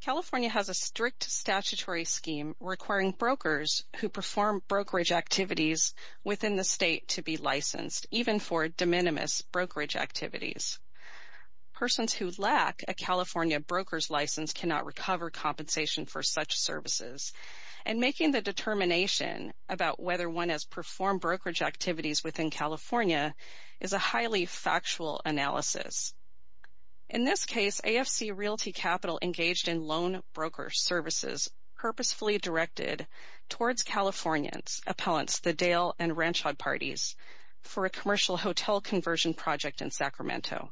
California has a strict statutory scheme requiring brokers who perform brokerage activities within the state to be licensed, even for de minimis brokerage activities. Persons who lack a California broker's license cannot recover compensation for such services, and making the determination about whether one has performed brokerage activities within California is a highly factual analysis. In this case, AFC Realty Capital engaged in loan broker services purposefully directed towards Californian appellants, the Dale and Ranchod parties, for a commercial hotel conversion project in Sacramento.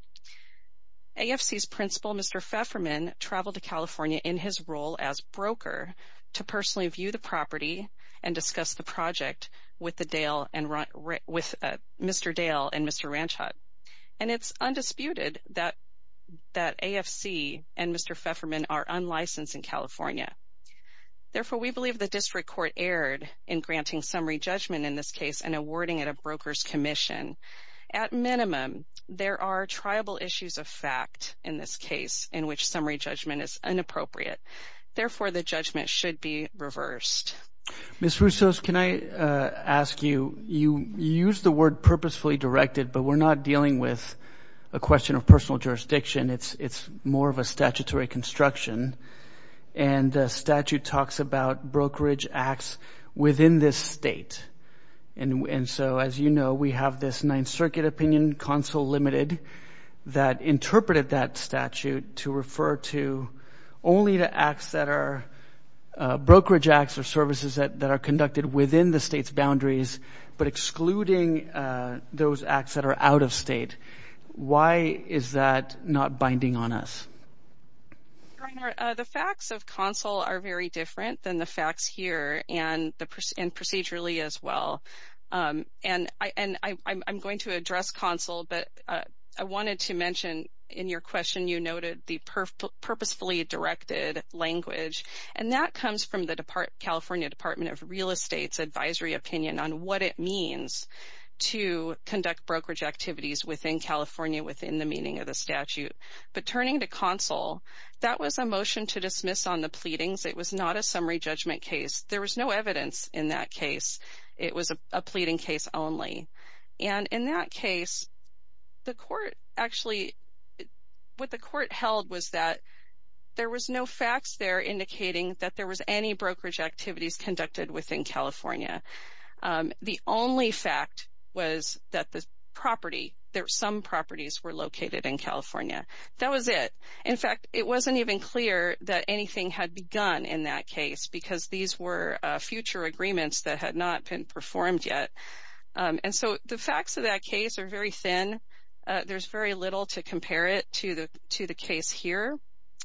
AFC's principal, Mr. Pfefferman, traveled to California in his role as broker to personally review the property and discuss the project with Mr. Dale and Mr. Ranchod. And it's undisputed that AFC and Mr. Pfefferman are unlicensed in California. Therefore we believe the district court erred in granting summary judgment in this case and awarding it a broker's commission. At minimum, there are triable issues of fact in this case in which summary judgment is inappropriate. Therefore, the judgment should be reversed. Ms. Roussos, can I ask you, you used the word purposefully directed, but we're not dealing with a question of personal jurisdiction. It's more of a statutory construction, and the statute talks about brokerage acts within this state. And so, as you know, we have this Ninth Circuit opinion, consul limited, that interpreted that statute to refer to only the acts that are brokerage acts or services that are conducted within the state's boundaries, but excluding those acts that are out of state. Why is that not binding on us? The facts of consul are very different than the facts here and procedurally as well. And I'm going to address consul, but I wanted to mention in your question, you noted the purposefully directed language, and that comes from the California Department of Real Estate's advisory opinion on what it means to conduct brokerage activities within California within the meaning of the statute. But turning to consul, that was a motion to dismiss on the pleadings. It was not a summary judgment case. There was no evidence in that case. It was a pleading case only. And in that case, the court actually, what the court held was that there was no facts there indicating that there was any brokerage activities conducted within California. The only fact was that the property, some properties were located in California. That was it. In fact, it wasn't even clear that anything had begun in that case because these were future agreements that had not been performed yet. And so the facts of that case are very thin. There's very little to compare it to the case here.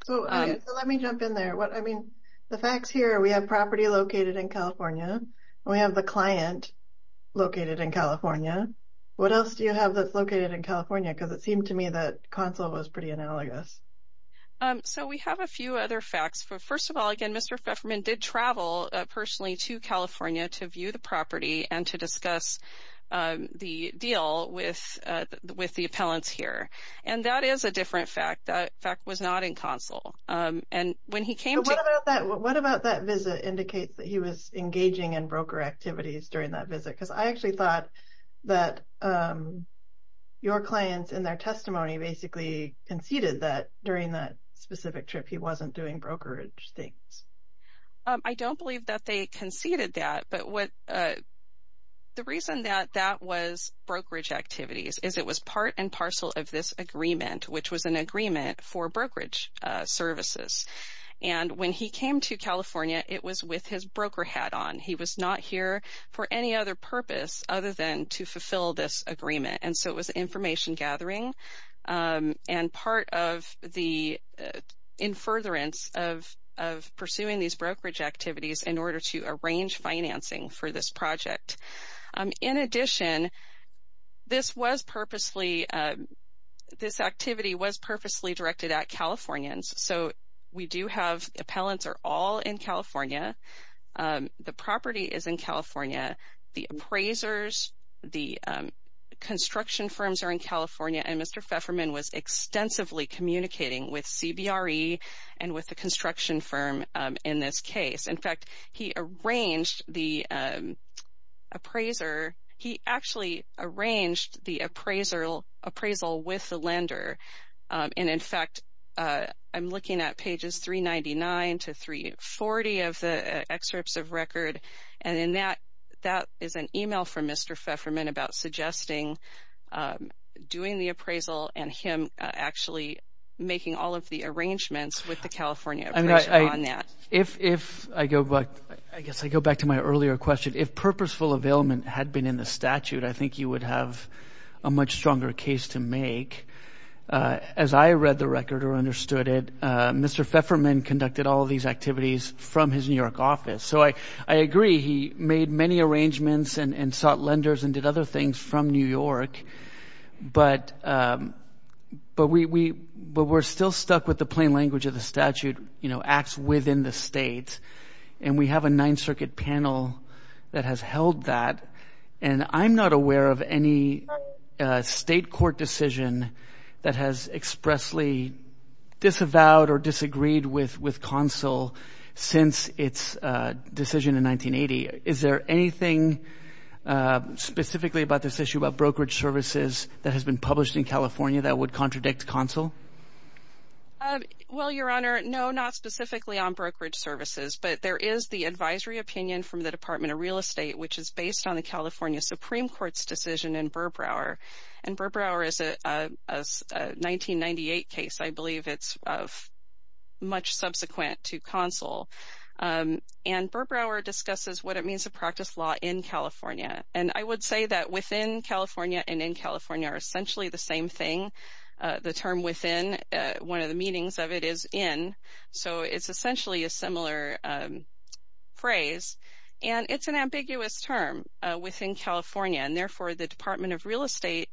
So let me jump in there. I mean, the facts here, we have property located in California, we have the client located in California. What else do you have that's located in California? Because it seemed to me that consul was pretty analogous. So we have a few other facts. First of all, again, Mr. Fefferman did travel personally to California to view the property and to discuss the deal with the appellants here. And that is a different fact. That fact was not in consul. And when he came to- But what about that? What about that visit indicates that he was engaging in broker activities during that visit? Because I actually thought that your clients in their testimony basically conceded that during that specific trip he wasn't doing brokerage things. I don't believe that they conceded that. But the reason that that was brokerage activities is it was part and parcel of this agreement, which was an agreement for brokerage services. And when he came to California, it was with his broker hat on. He was not here for any other purpose other than to fulfill this agreement. And so it was information gathering. And part of the in furtherance of pursuing these brokerage activities in order to arrange financing for this project. In addition, this was purposely, this activity was purposely directed at Californians. So we do have appellants are all in California. The property is in California. The appraisers, the construction firms are in California. And Mr. Pfefferman was extensively communicating with CBRE and with the construction firm in this case. In fact, he arranged the appraiser, he actually arranged the appraisal with the lender. And in fact, I'm looking at pages 399 to 340 of the excerpts of record. And in that, that is an email from Mr. Pfefferman about suggesting doing the appraisal and him actually making all of the arrangements with the California appraiser on that. If I go back, I guess I go back to my earlier question. If purposeful availment had been in the statute, I think you would have a much stronger case to make. As I read the record or understood it, Mr. Pfefferman conducted all of these activities from his New York office. So I agree, he made many arrangements and sought lenders and did other things from New York, but we're still stuck with the plain language of the statute, you know, acts within the state. And we have a Ninth Circuit panel that has held that. And I'm not aware of any state court decision that has expressly disavowed or disagreed with CONSEL since its decision in 1980. Is there anything specifically about this issue about brokerage services that has been published in California that would contradict CONSEL? Well, Your Honor, no, not specifically on brokerage services, but there is the advisory opinion from the Department of Real Estate, which is based on the California Supreme Court's decision in Burbrower. And Burbrower is a 1998 case, I believe it's of much subsequent to CONSEL. And Burbrower discusses what it means to practice law in California. And I would say that within California and in California are essentially the same thing. The term within, one of the meanings of it is in, so it's essentially a similar phrase. And it's an ambiguous term within California, and therefore the Department of Real Estate,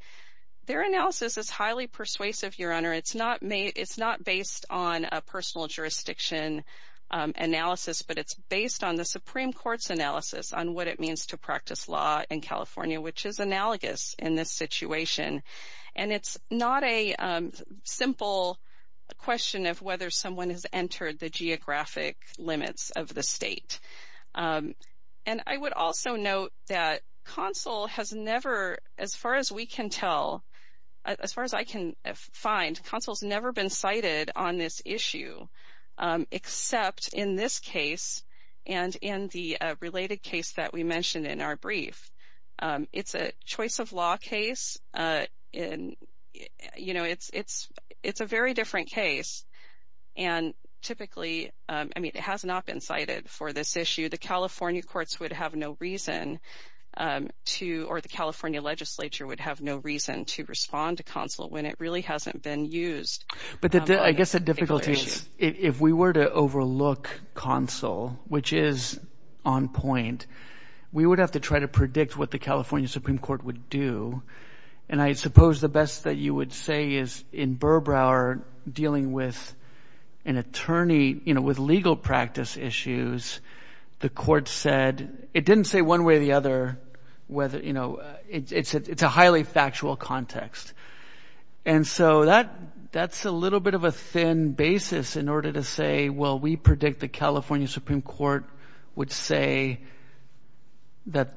their analysis is highly persuasive, Your Honor. It's not based on a personal jurisdiction analysis, but it's based on the Supreme Court's analysis on what it means to practice law in California, which is analogous in this situation. And it's not a simple question of whether someone has entered the geographic limits of the state. And I would also note that CONSEL has never, as far as we can tell, as far as I can find, CONSEL's never been cited on this issue, except in this case and in the related case that we mentioned in our brief. It's a choice of law case, you know, it's a very different case. And typically, I mean, it has not been cited for this issue. The California courts would have no reason to, or the California legislature would have no reason to respond to CONSEL when it really hasn't been used. But I guess the difficulty is if we were to overlook CONSEL, which is on point, we would have to try to predict what the California Supreme Court would do. And I suppose the best that you would say is in Burbrower dealing with an attorney, you know, with legal practice issues, the court said, it didn't say one way or the other whether, you know, it's a highly factual context. And so that's a little bit of a thin basis in order to say, well, we predict the California Supreme Court would say that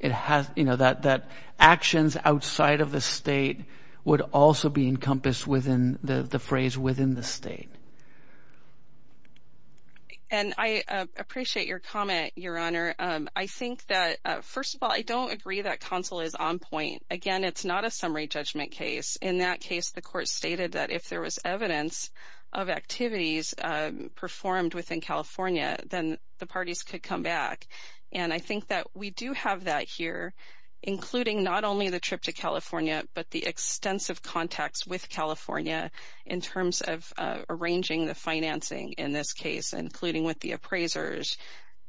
it has, you know, that actions outside of the state would also be encompassed within the phrase within the state. And I appreciate your comment, Your Honor. I think that, first of all, I don't agree that CONSEL is on point. Again, it's not a summary judgment case. In that case, the court stated that if there was evidence of activities performed within California, then the parties could come back. And I think that we do have that here, including not only the trip to California, but the extensive context with California in terms of arranging the financing in this case, including with the appraisers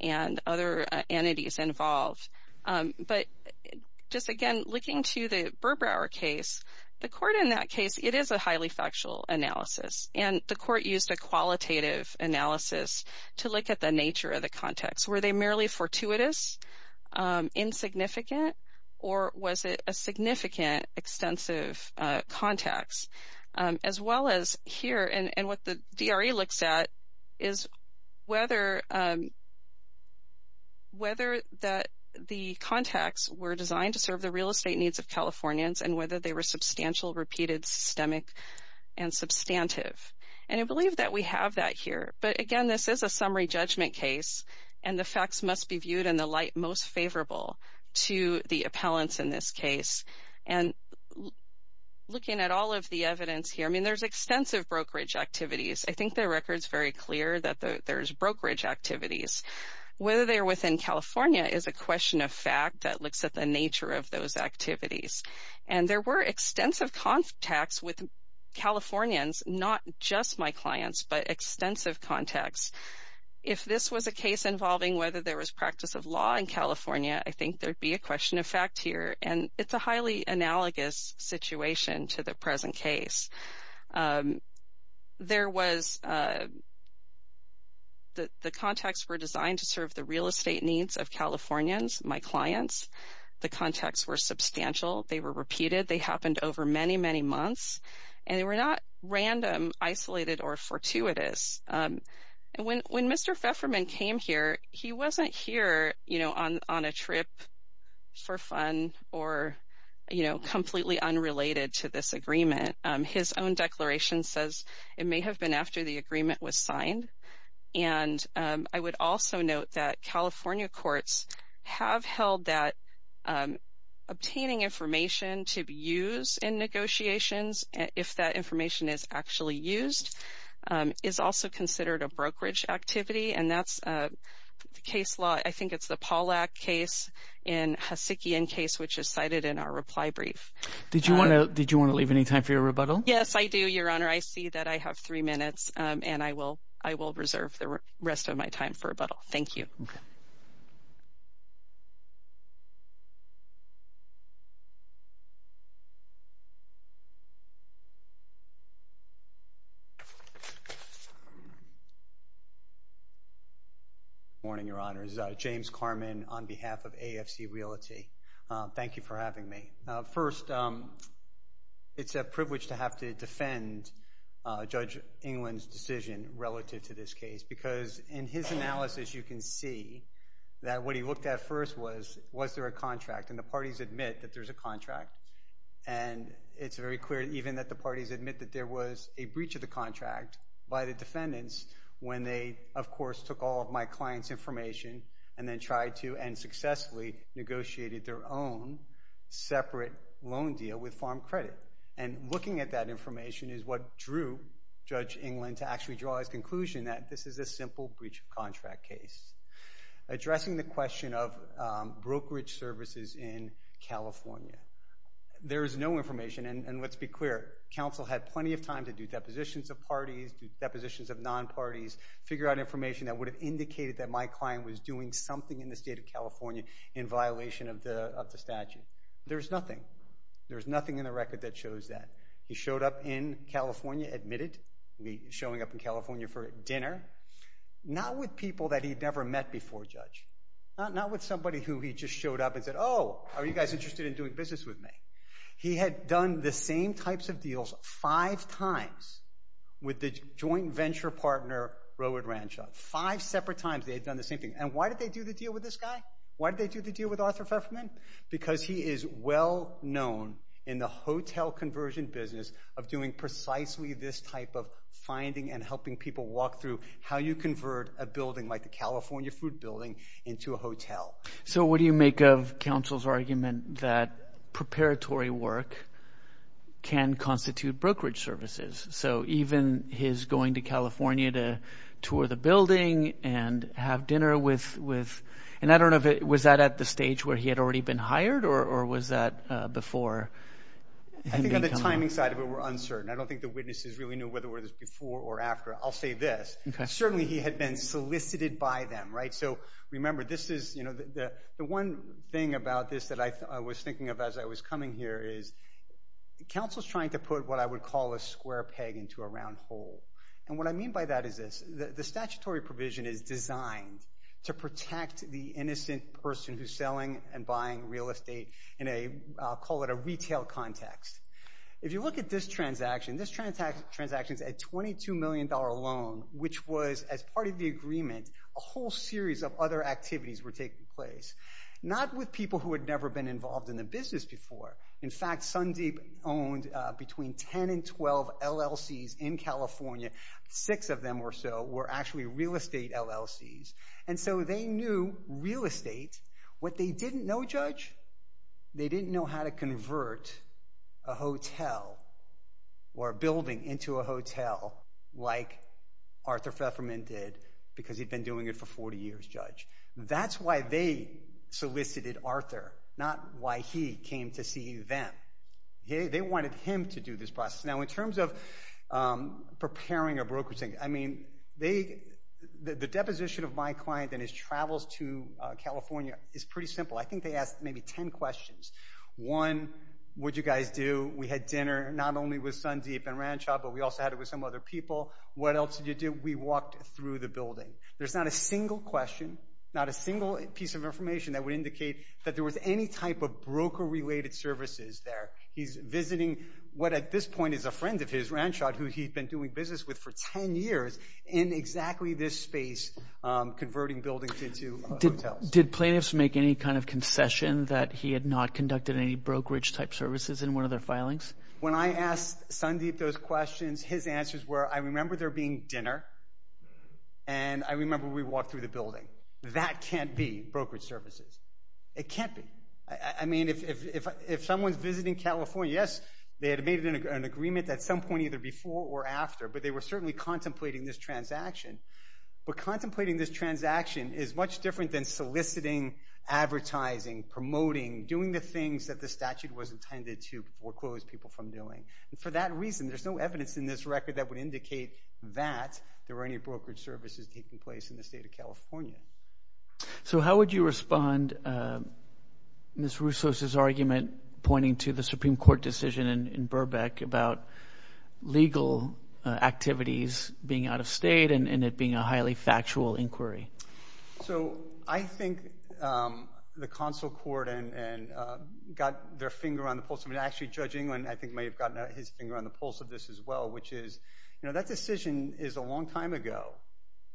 and other entities involved. But just, again, looking to the Burbrower case, the court in that case, it is a highly factual analysis. And the court used a qualitative analysis to look at the nature of the context. Were they merely fortuitous, insignificant, or was it a significant extensive context? As well as here, and what the DRE looks at is whether that the context were designed to serve the real estate needs of Californians and whether they were substantial repeated systemic and substantive. And I believe that we have that here. But again, this is a summary judgment case, and the facts must be viewed in the light most favorable to the appellants in this case. And looking at all of the evidence here, I mean, there's extensive brokerage activities. I think the record's very clear that there's brokerage activities. Whether they're within California is a question of fact that looks at the nature of those activities. And there were extensive contacts with Californians, not just my clients, but extensive contacts. If this was a case involving whether there was practice of law in California, I think there'd be a question of fact here. And it's a highly analogous situation to the present case. There was the contacts were designed to serve the real estate needs of Californians, my clients. The contacts were substantial. They were repeated. They happened over many, many months, and they were not random, isolated, or fortuitous. When Mr. Pfefferman came here, he wasn't here on a trip for fun or completely unrelated to this agreement. His own declaration says it may have been after the agreement was signed. And I would also note that California courts have held that obtaining information to be used in negotiations, if that information is actually used, is also considered a brokerage activity. And that's the case law, I think it's the Pollack case in Hasekian case, which is cited in our reply brief. Did you want to leave any time for your rebuttal? Yes, I do, Your Honor. I see that I have three minutes, and I will reserve the rest of my time for rebuttal. Thank you. Good morning, Your Honors. James Carman on behalf of AFC Realty. Thank you for having me. First, it's a privilege to have to defend Judge England's decision relative to this case, because in his analysis, you can see that what he looked at first was, was there a contract? And the parties admit that there's a contract, and it's very clear even that the parties admit that there was a breach of the contract by the defendants when they, of course, took all of my client's information and then tried to, and successfully negotiated their own separate loan deal with Farm Credit. And looking at that information is what drew Judge England to actually draw his conclusion that this is a simple breach of contract case. Addressing the question of brokerage services in California, there is no information, and let's be clear, counsel had plenty of time to do depositions of parties, do depositions of non-parties, figure out information that would have indicated that my client was doing something in the state of California in violation of the statute. There's nothing. There's nothing in the record that shows that. He showed up in California, admitted, showing up in California for dinner, not with people that he'd never met before, Judge. Not with somebody who he just showed up and said, oh, are you guys interested in doing business with me? He had done the same types of deals five times with the joint venture partner, Rowood Rancho. Five separate times they had done the same thing. And why did they do the deal with this guy? Why did they do the deal with Arthur Fefferman? Because he is well known in the hotel conversion business of doing precisely this type of finding and helping people walk through how you convert a building like the California Food Building into a hotel. So what do you make of counsel's argument that preparatory work can constitute brokerage services? So even his going to California to tour the building and have dinner with, and I don't know if it, was that at the stage where he had already been hired or was that before? I think on the timing side of it, we're uncertain. I don't think the witnesses really knew whether it was before or after. I'll say this. Certainly, he had been solicited by them, right? So remember, this is, you know, the one thing about this that I was thinking of as I was coming here is counsel's trying to put what I would call a square peg into a round hole. And what I mean by that is this. The statutory provision is designed to protect the innocent person who's selling and buying real estate in a, I'll call it a retail context. If you look at this transaction, this transaction's a $22 million loan, which was, as part of the agreement, a whole series of other activities were taking place. Not with people who had never been involved in the business before. In fact, Sundeep owned between 10 and 12 LLCs in California. Six of them or so were actually real estate LLCs. And so they knew real estate. What they didn't know, Judge, they didn't know how to convert a hotel or a building into a hotel like Arthur Featherman did because he'd been doing it for 40 years, Judge. That's why they solicited Arthur, not why he came to see them. They wanted him to do this process. Now in terms of preparing a brokerage thing, I mean, they, the deposition of my client and his travels to California is pretty simple. I think they asked maybe 10 questions. One, what'd you guys do? We had dinner not only with Sundeep and Ranshaw, but we also had it with some other people. What else did you do? We walked through the building. There's not a single question, not a single piece of information that would indicate that there was any type of broker-related services there. He's visiting what at this point is a friend of his, Ranshaw, who he'd been doing business with for 10 years in exactly this space, converting buildings into hotels. Did plaintiffs make any kind of concession that he had not conducted any brokerage-type services in one of their filings? When I asked Sundeep those questions, his answers were, I remember there being dinner and I remember we walked through the building. That can't be brokerage services. It can't be. I mean, if someone's visiting California, yes, they had made an agreement at some point either before or after, but they were certainly contemplating this transaction. that the statute was intended to foreclose people from doing. For that reason, there's no evidence in this record that would indicate that there were any brokerage services taking place in the state of California. So how would you respond to Ms. Russo's argument pointing to the Supreme Court decision in Burbank about legal activities being out of state and it being a highly factual inquiry? So I think the consul court got their finger on the pulse of it. Actually, Judge England I think may have gotten his finger on the pulse of this as well, which is, you know, that decision is a long time ago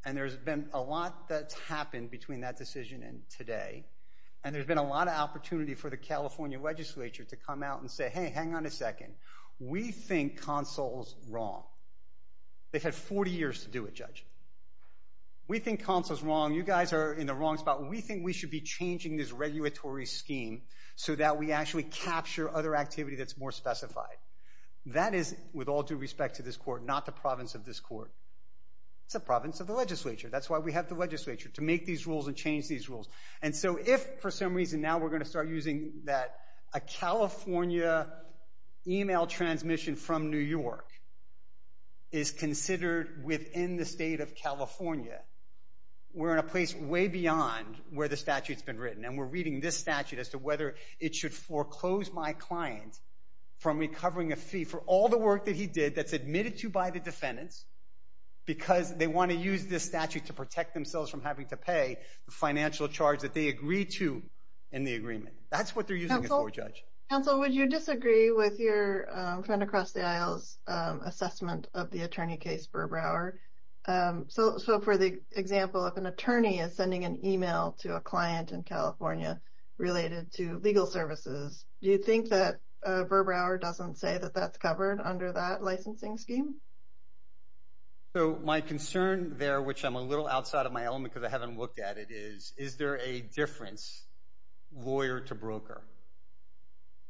and there's been a lot that's happened between that decision and today, and there's been a lot of opportunity for the California legislature to come out and say, hey, hang on a second. We think consul's wrong. They've had 40 years to do it, Judge. We think consul's wrong. You guys are in the wrong spot. We think we should be changing this regulatory scheme so that we actually capture other activity that's more specified. That is, with all due respect to this court, not the province of this court. It's the province of the legislature. That's why we have the legislature, to make these rules and change these rules. And so if for some reason now we're going to start using that a California email transmission from New York is considered within the state of California, we're in a place way beyond where the statute's been written, and we're reading this statute as to whether it should foreclose my client from recovering a fee for all the work that he did that's admitted to by the defendants because they want to use this statute to protect themselves from having to pay the financial charge that they agreed to in the agreement. That's what they're using it for, Judge. Counsel, would you disagree with your friend across the aisle's assessment of the attorney case, Burbrower? So for the example of an attorney is sending an email to a client in California related to legal services, do you think that Burbrower doesn't say that that's covered under that licensing scheme? So my concern there, which I'm a little outside of my element because I haven't looked at it, is, is there a difference lawyer to broker?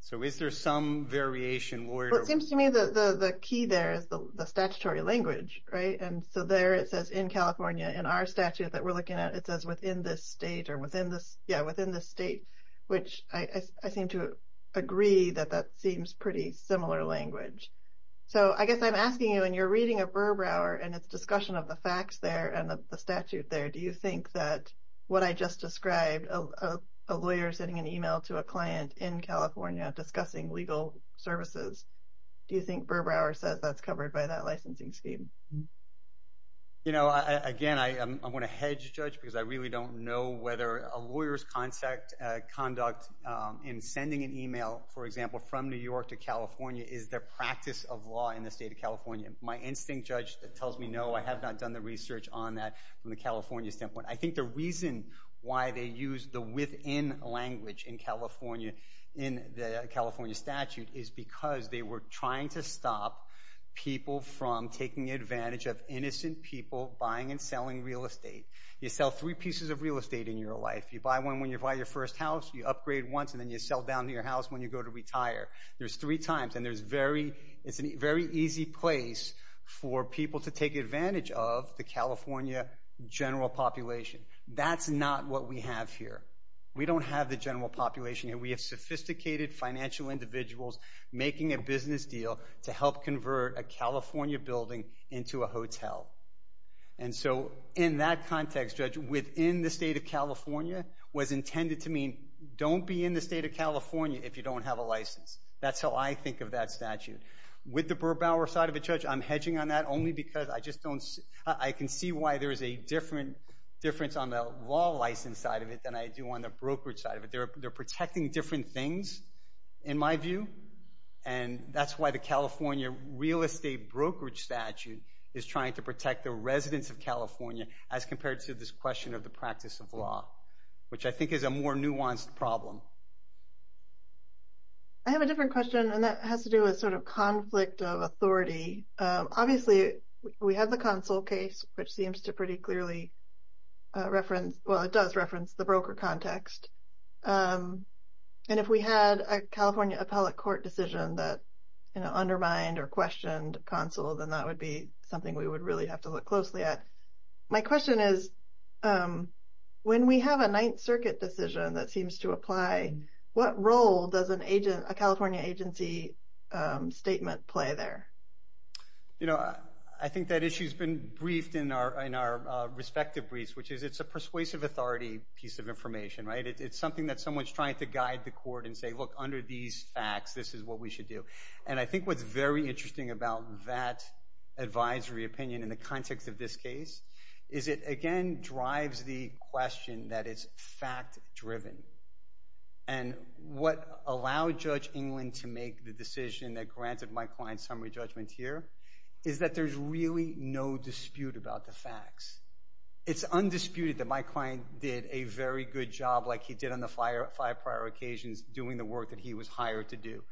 So is there some variation lawyer to broker? Well, it seems to me that the key there is the statutory language, right? And so there it says in California in our statute that we're looking at, it says within this state or within this, yeah, within the state, which I seem to agree that that seems pretty similar language. So I guess I'm asking you when you're reading a Burbrower and it's discussion of the facts there and the statute there, do you think that what I just described, a lawyer sending an email to a client in California discussing legal services, do you think Burbrower says that's covered by that licensing scheme? You know, I, again, I, I'm going to hedge judge because I really don't know whether a lawyer's concept, conduct in sending an email, for example, from New York to California is their practice of law in the state of California. My instinct judge that tells me, no, I have not done the research on that from the California standpoint. I think the reason why they use the within language in California in the California statute is because they were trying to stop people from taking advantage of innocent people buying and selling real estate. You sell three pieces of real estate in your life. You buy one when you buy your first house, you upgrade once and then you sell down to your house when you go to retire. There's three times and there's very, it's a very easy place for people to take advantage of the California general population. That's not what we have here. We don't have the general population here. We have sophisticated financial individuals making a business deal to help convert a California building into a hotel. And so, in that context, judge, within the state of California was intended to mean don't be in the state of California if you don't have a license. That's how I think of that statute. With the Burr-Bauer side of it, judge, I'm hedging on that only because I just don't, I can see why there's a difference on the law license side of it than I do on the brokerage side of it. They're protecting different things, in my view. And that's why the California real estate brokerage statute is trying to protect the residents of California as compared to this question of the practice of law, which I think is a more nuanced problem. I have a different question, and that has to do with sort of conflict of authority. Obviously, we have the Consul case, which seems to pretty clearly reference, well, it does reference the broker context. And if we had a California appellate court decision that undermined or questioned Consul, then that would be something we would really have to look closely at. My question is, when we have a Ninth Circuit decision that seems to apply, what role does a California agency statement play there? I think that issue's been briefed in our respective briefs, which is it's a persuasive authority piece of information, right? It's something that someone's trying to guide the court and say, look, under these facts, this is what we should do. And I think what's very interesting about that advisory opinion in the context of this case is it, again, drives the question that it's fact-driven. And what allowed Judge England to make the decision that granted my client summary judgment here is that there's really no dispute about the facts. It's undisputed that my client did a very good job like he did on the five prior occasions doing the work that he was hired to do.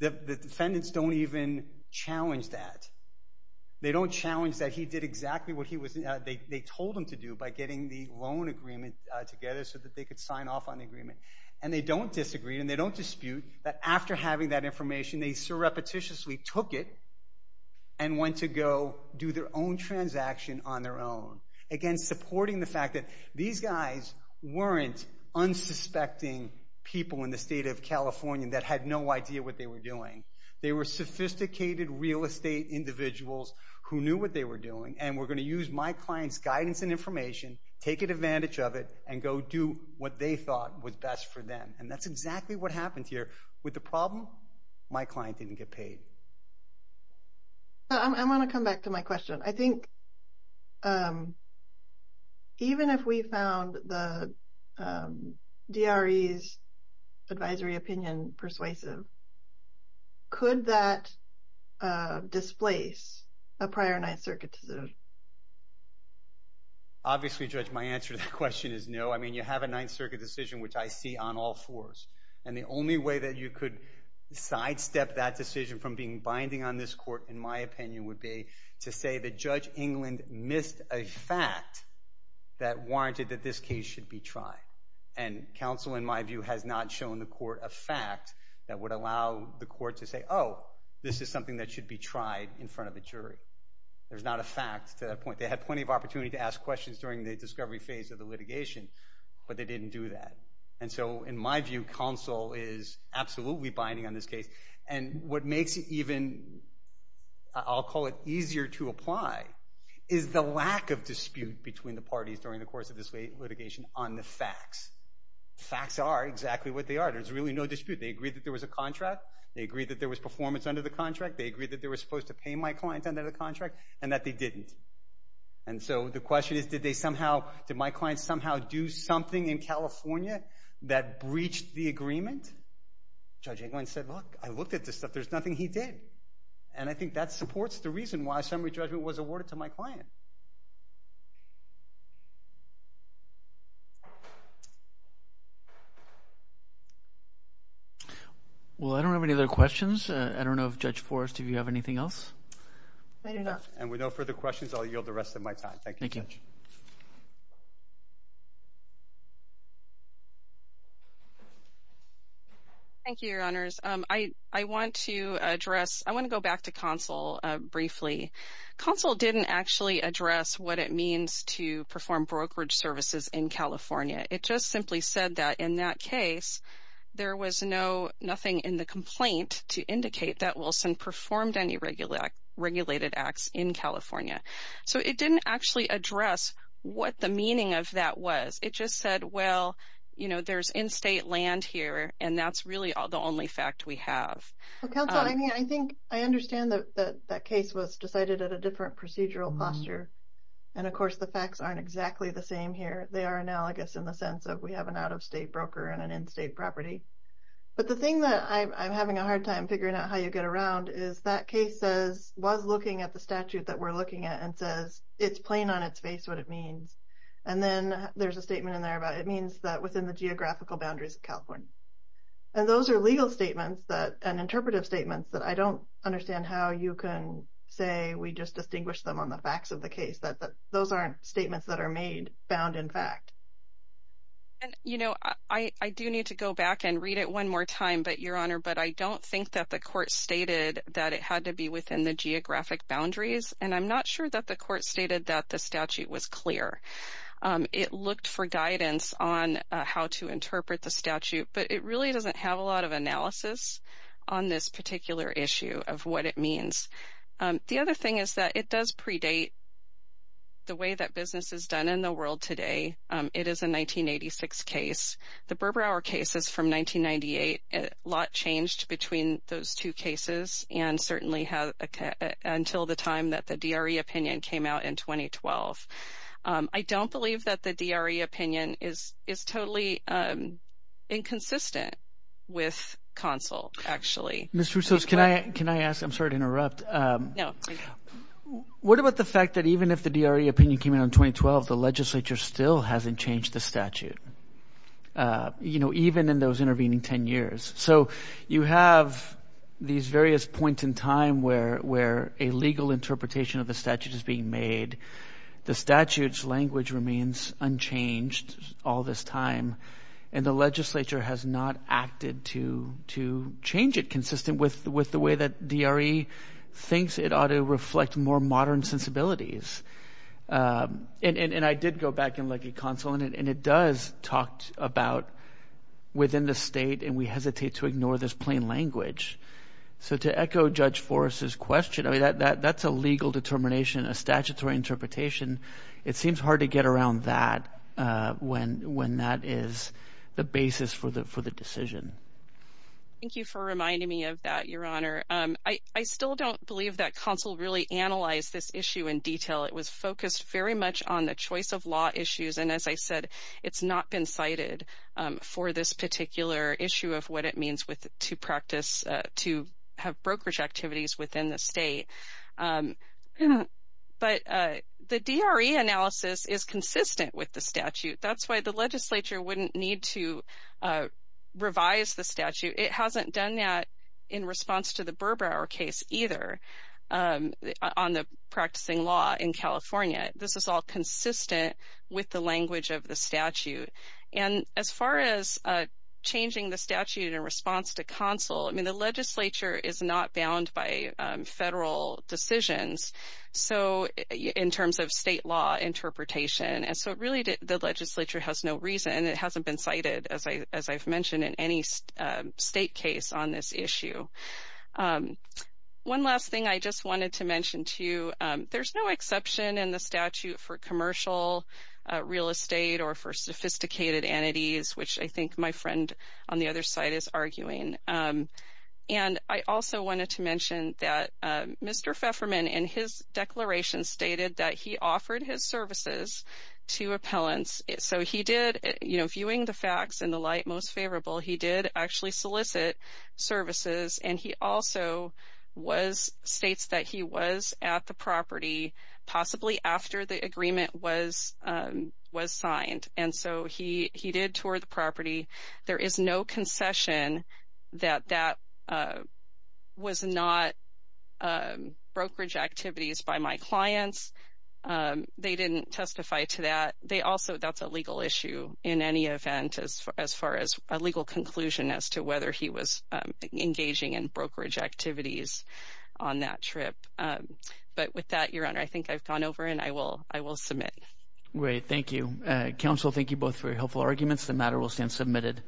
The defendants don't even challenge that. They don't challenge that he did exactly what they told him to do by getting the loan agreement together so that they could sign off on the agreement. And they don't disagree and they don't dispute that after having that information, they so repetitiously took it and went to go do their own transaction on their own, again, supporting the fact that these guys weren't unsuspecting people in the state of California that had no idea what they were doing. They were sophisticated real estate individuals who knew what they were doing and were going to use my client's guidance and information, take advantage of it, and go do what they thought was best for them. And that's exactly what happened here. With the problem, my client didn't get paid. I want to come back to my question. I think even if we found the DRE's advisory opinion persuasive, could that displace a prior Ninth Circuit decision? Obviously, Judge, my answer to that question is no. I mean, you have a Ninth Circuit decision, which I see on all floors. And the only way that you could sidestep that decision from being binding on this court, in my opinion, would be to say that Judge England missed a fact that warranted that this case should be tried. And counsel, in my view, has not shown the court a fact that would allow the court to say, oh, this is something that should be tried in front of a jury. There's not a fact to that point. They had plenty of opportunity to ask questions during the discovery phase of the litigation, but they didn't do that. And so, in my view, counsel is absolutely binding on this case. And what makes it even, I'll call it easier to apply, is the lack of dispute between the parties during the course of this litigation on the facts. Facts are exactly what they are. There's really no dispute. They agreed that there was a contract. They agreed that there was performance under the contract. They agreed that they were supposed to pay my client under the contract, and that they didn't. And so, the question is, did they somehow, did my client somehow do something in California that breached the agreement? Judge Englund said, look, I looked at this stuff. There's nothing he did. And I think that supports the reason why summary judgment was awarded to my client. Well, I don't have any other questions. I don't know if Judge Forrest, do you have anything else? I do not. And with no further questions, I'll yield the rest of my time. Thank you, Judge. Thank you. Thank you, Your Honors. I want to address, I want to go back to Consul briefly. Consul didn't actually address what it means to perform brokerage services in California. It just simply said that in that case, there was no, nothing in the complaint to indicate that Wilson performed any regulated acts in California. So, it didn't actually address what the meaning of that was. It just said, well, you know, there's in-state land here. And that's really the only fact we have. Well, Consul, I mean, I think I understand that that case was decided at a different procedural posture. And, of course, the facts aren't exactly the same here. They are analogous in the sense of we have an out-of-state broker and an in-state property. But the thing that I'm having a hard time figuring out how you get around is that case says, was looking at the statute that we're looking at and says, it's plain on its face what it means. And then there's a statement in there about it means that within the geographical boundaries of California. And those are legal statements and interpretive statements that I don't understand how you can say we just distinguish them on the facts of the case, that those aren't statements that are made, found in fact. And, you know, I do need to go back and read it one more time, Your Honor, but I don't think that the court stated that it had to be within the geographic boundaries. And I'm not sure that the court stated that the statute was clear. It looked for guidance on how to interpret the statute. But it really doesn't have a lot of analysis on this particular issue of what it means. The other thing is that it does predate the way that business is done in the world today. It is a 1986 case. The Burbrower case is from 1998. A lot changed between those two cases and certainly until the time that the DRE opinion came out in 2012. I don't believe that the DRE opinion is totally inconsistent with consul, actually. Mr. Russo, can I ask? I'm sorry to interrupt. No. What about the fact that even if the DRE opinion came out in 2012, the legislature still hasn't changed the statute, even in those intervening 10 years. So you have these various points in time where a legal interpretation of the statute is being made. The statute's language remains unchanged all this time, and the legislature has not acted to change it consistent with the way that DRE thinks it ought to reflect more modern sensibilities. And I did go back and look at consul, and it does talk about within the state, and we hesitate to ignore this plain language. So to echo Judge Forrest's question, I mean, that's a legal determination, a statutory interpretation. It seems hard to get around that when that is the basis for the decision. Thank you for reminding me of that, Your Honor. I still don't believe that consul really analyzed this issue in detail. It was focused very much on the choice of law issues, and as I said, it's not been cited for this particular issue of what it means to practice, to have brokerage activities within the state. But the DRE analysis is consistent with the statute. That's why the legislature wouldn't need to revise the statute. It hasn't done that in response to the Burbrower case either on the practicing law in California. This is all consistent with the language of the statute. And as far as changing the statute in response to consul, I mean, the legislature is not bound by federal decisions in terms of state law interpretation, and so really the legislature has no reason, and it hasn't been cited, as I've mentioned, in any state case on this issue. One last thing I just wanted to mention to you, there's no exception in the statute for commercial real estate or for sophisticated entities, which I think my friend on the other side is arguing. And I also wanted to mention that Mr. Fefferman, in his declaration, stated that he offered his services to appellants. So he did, viewing the facts in the light most favorable, he did actually solicit services, and he also states that he was at the property possibly after the agreement was signed. And so he did tour the property. There is no concession that that was not brokerage activities by my clients. They didn't testify to that. But also that's a legal issue in any event as far as a legal conclusion as to whether he was engaging in brokerage activities on that trip. But with that, Your Honor, I think I've gone over, and I will submit. Great. Thank you. Counsel, thank you both for your helpful arguments. The matter will stand submitted.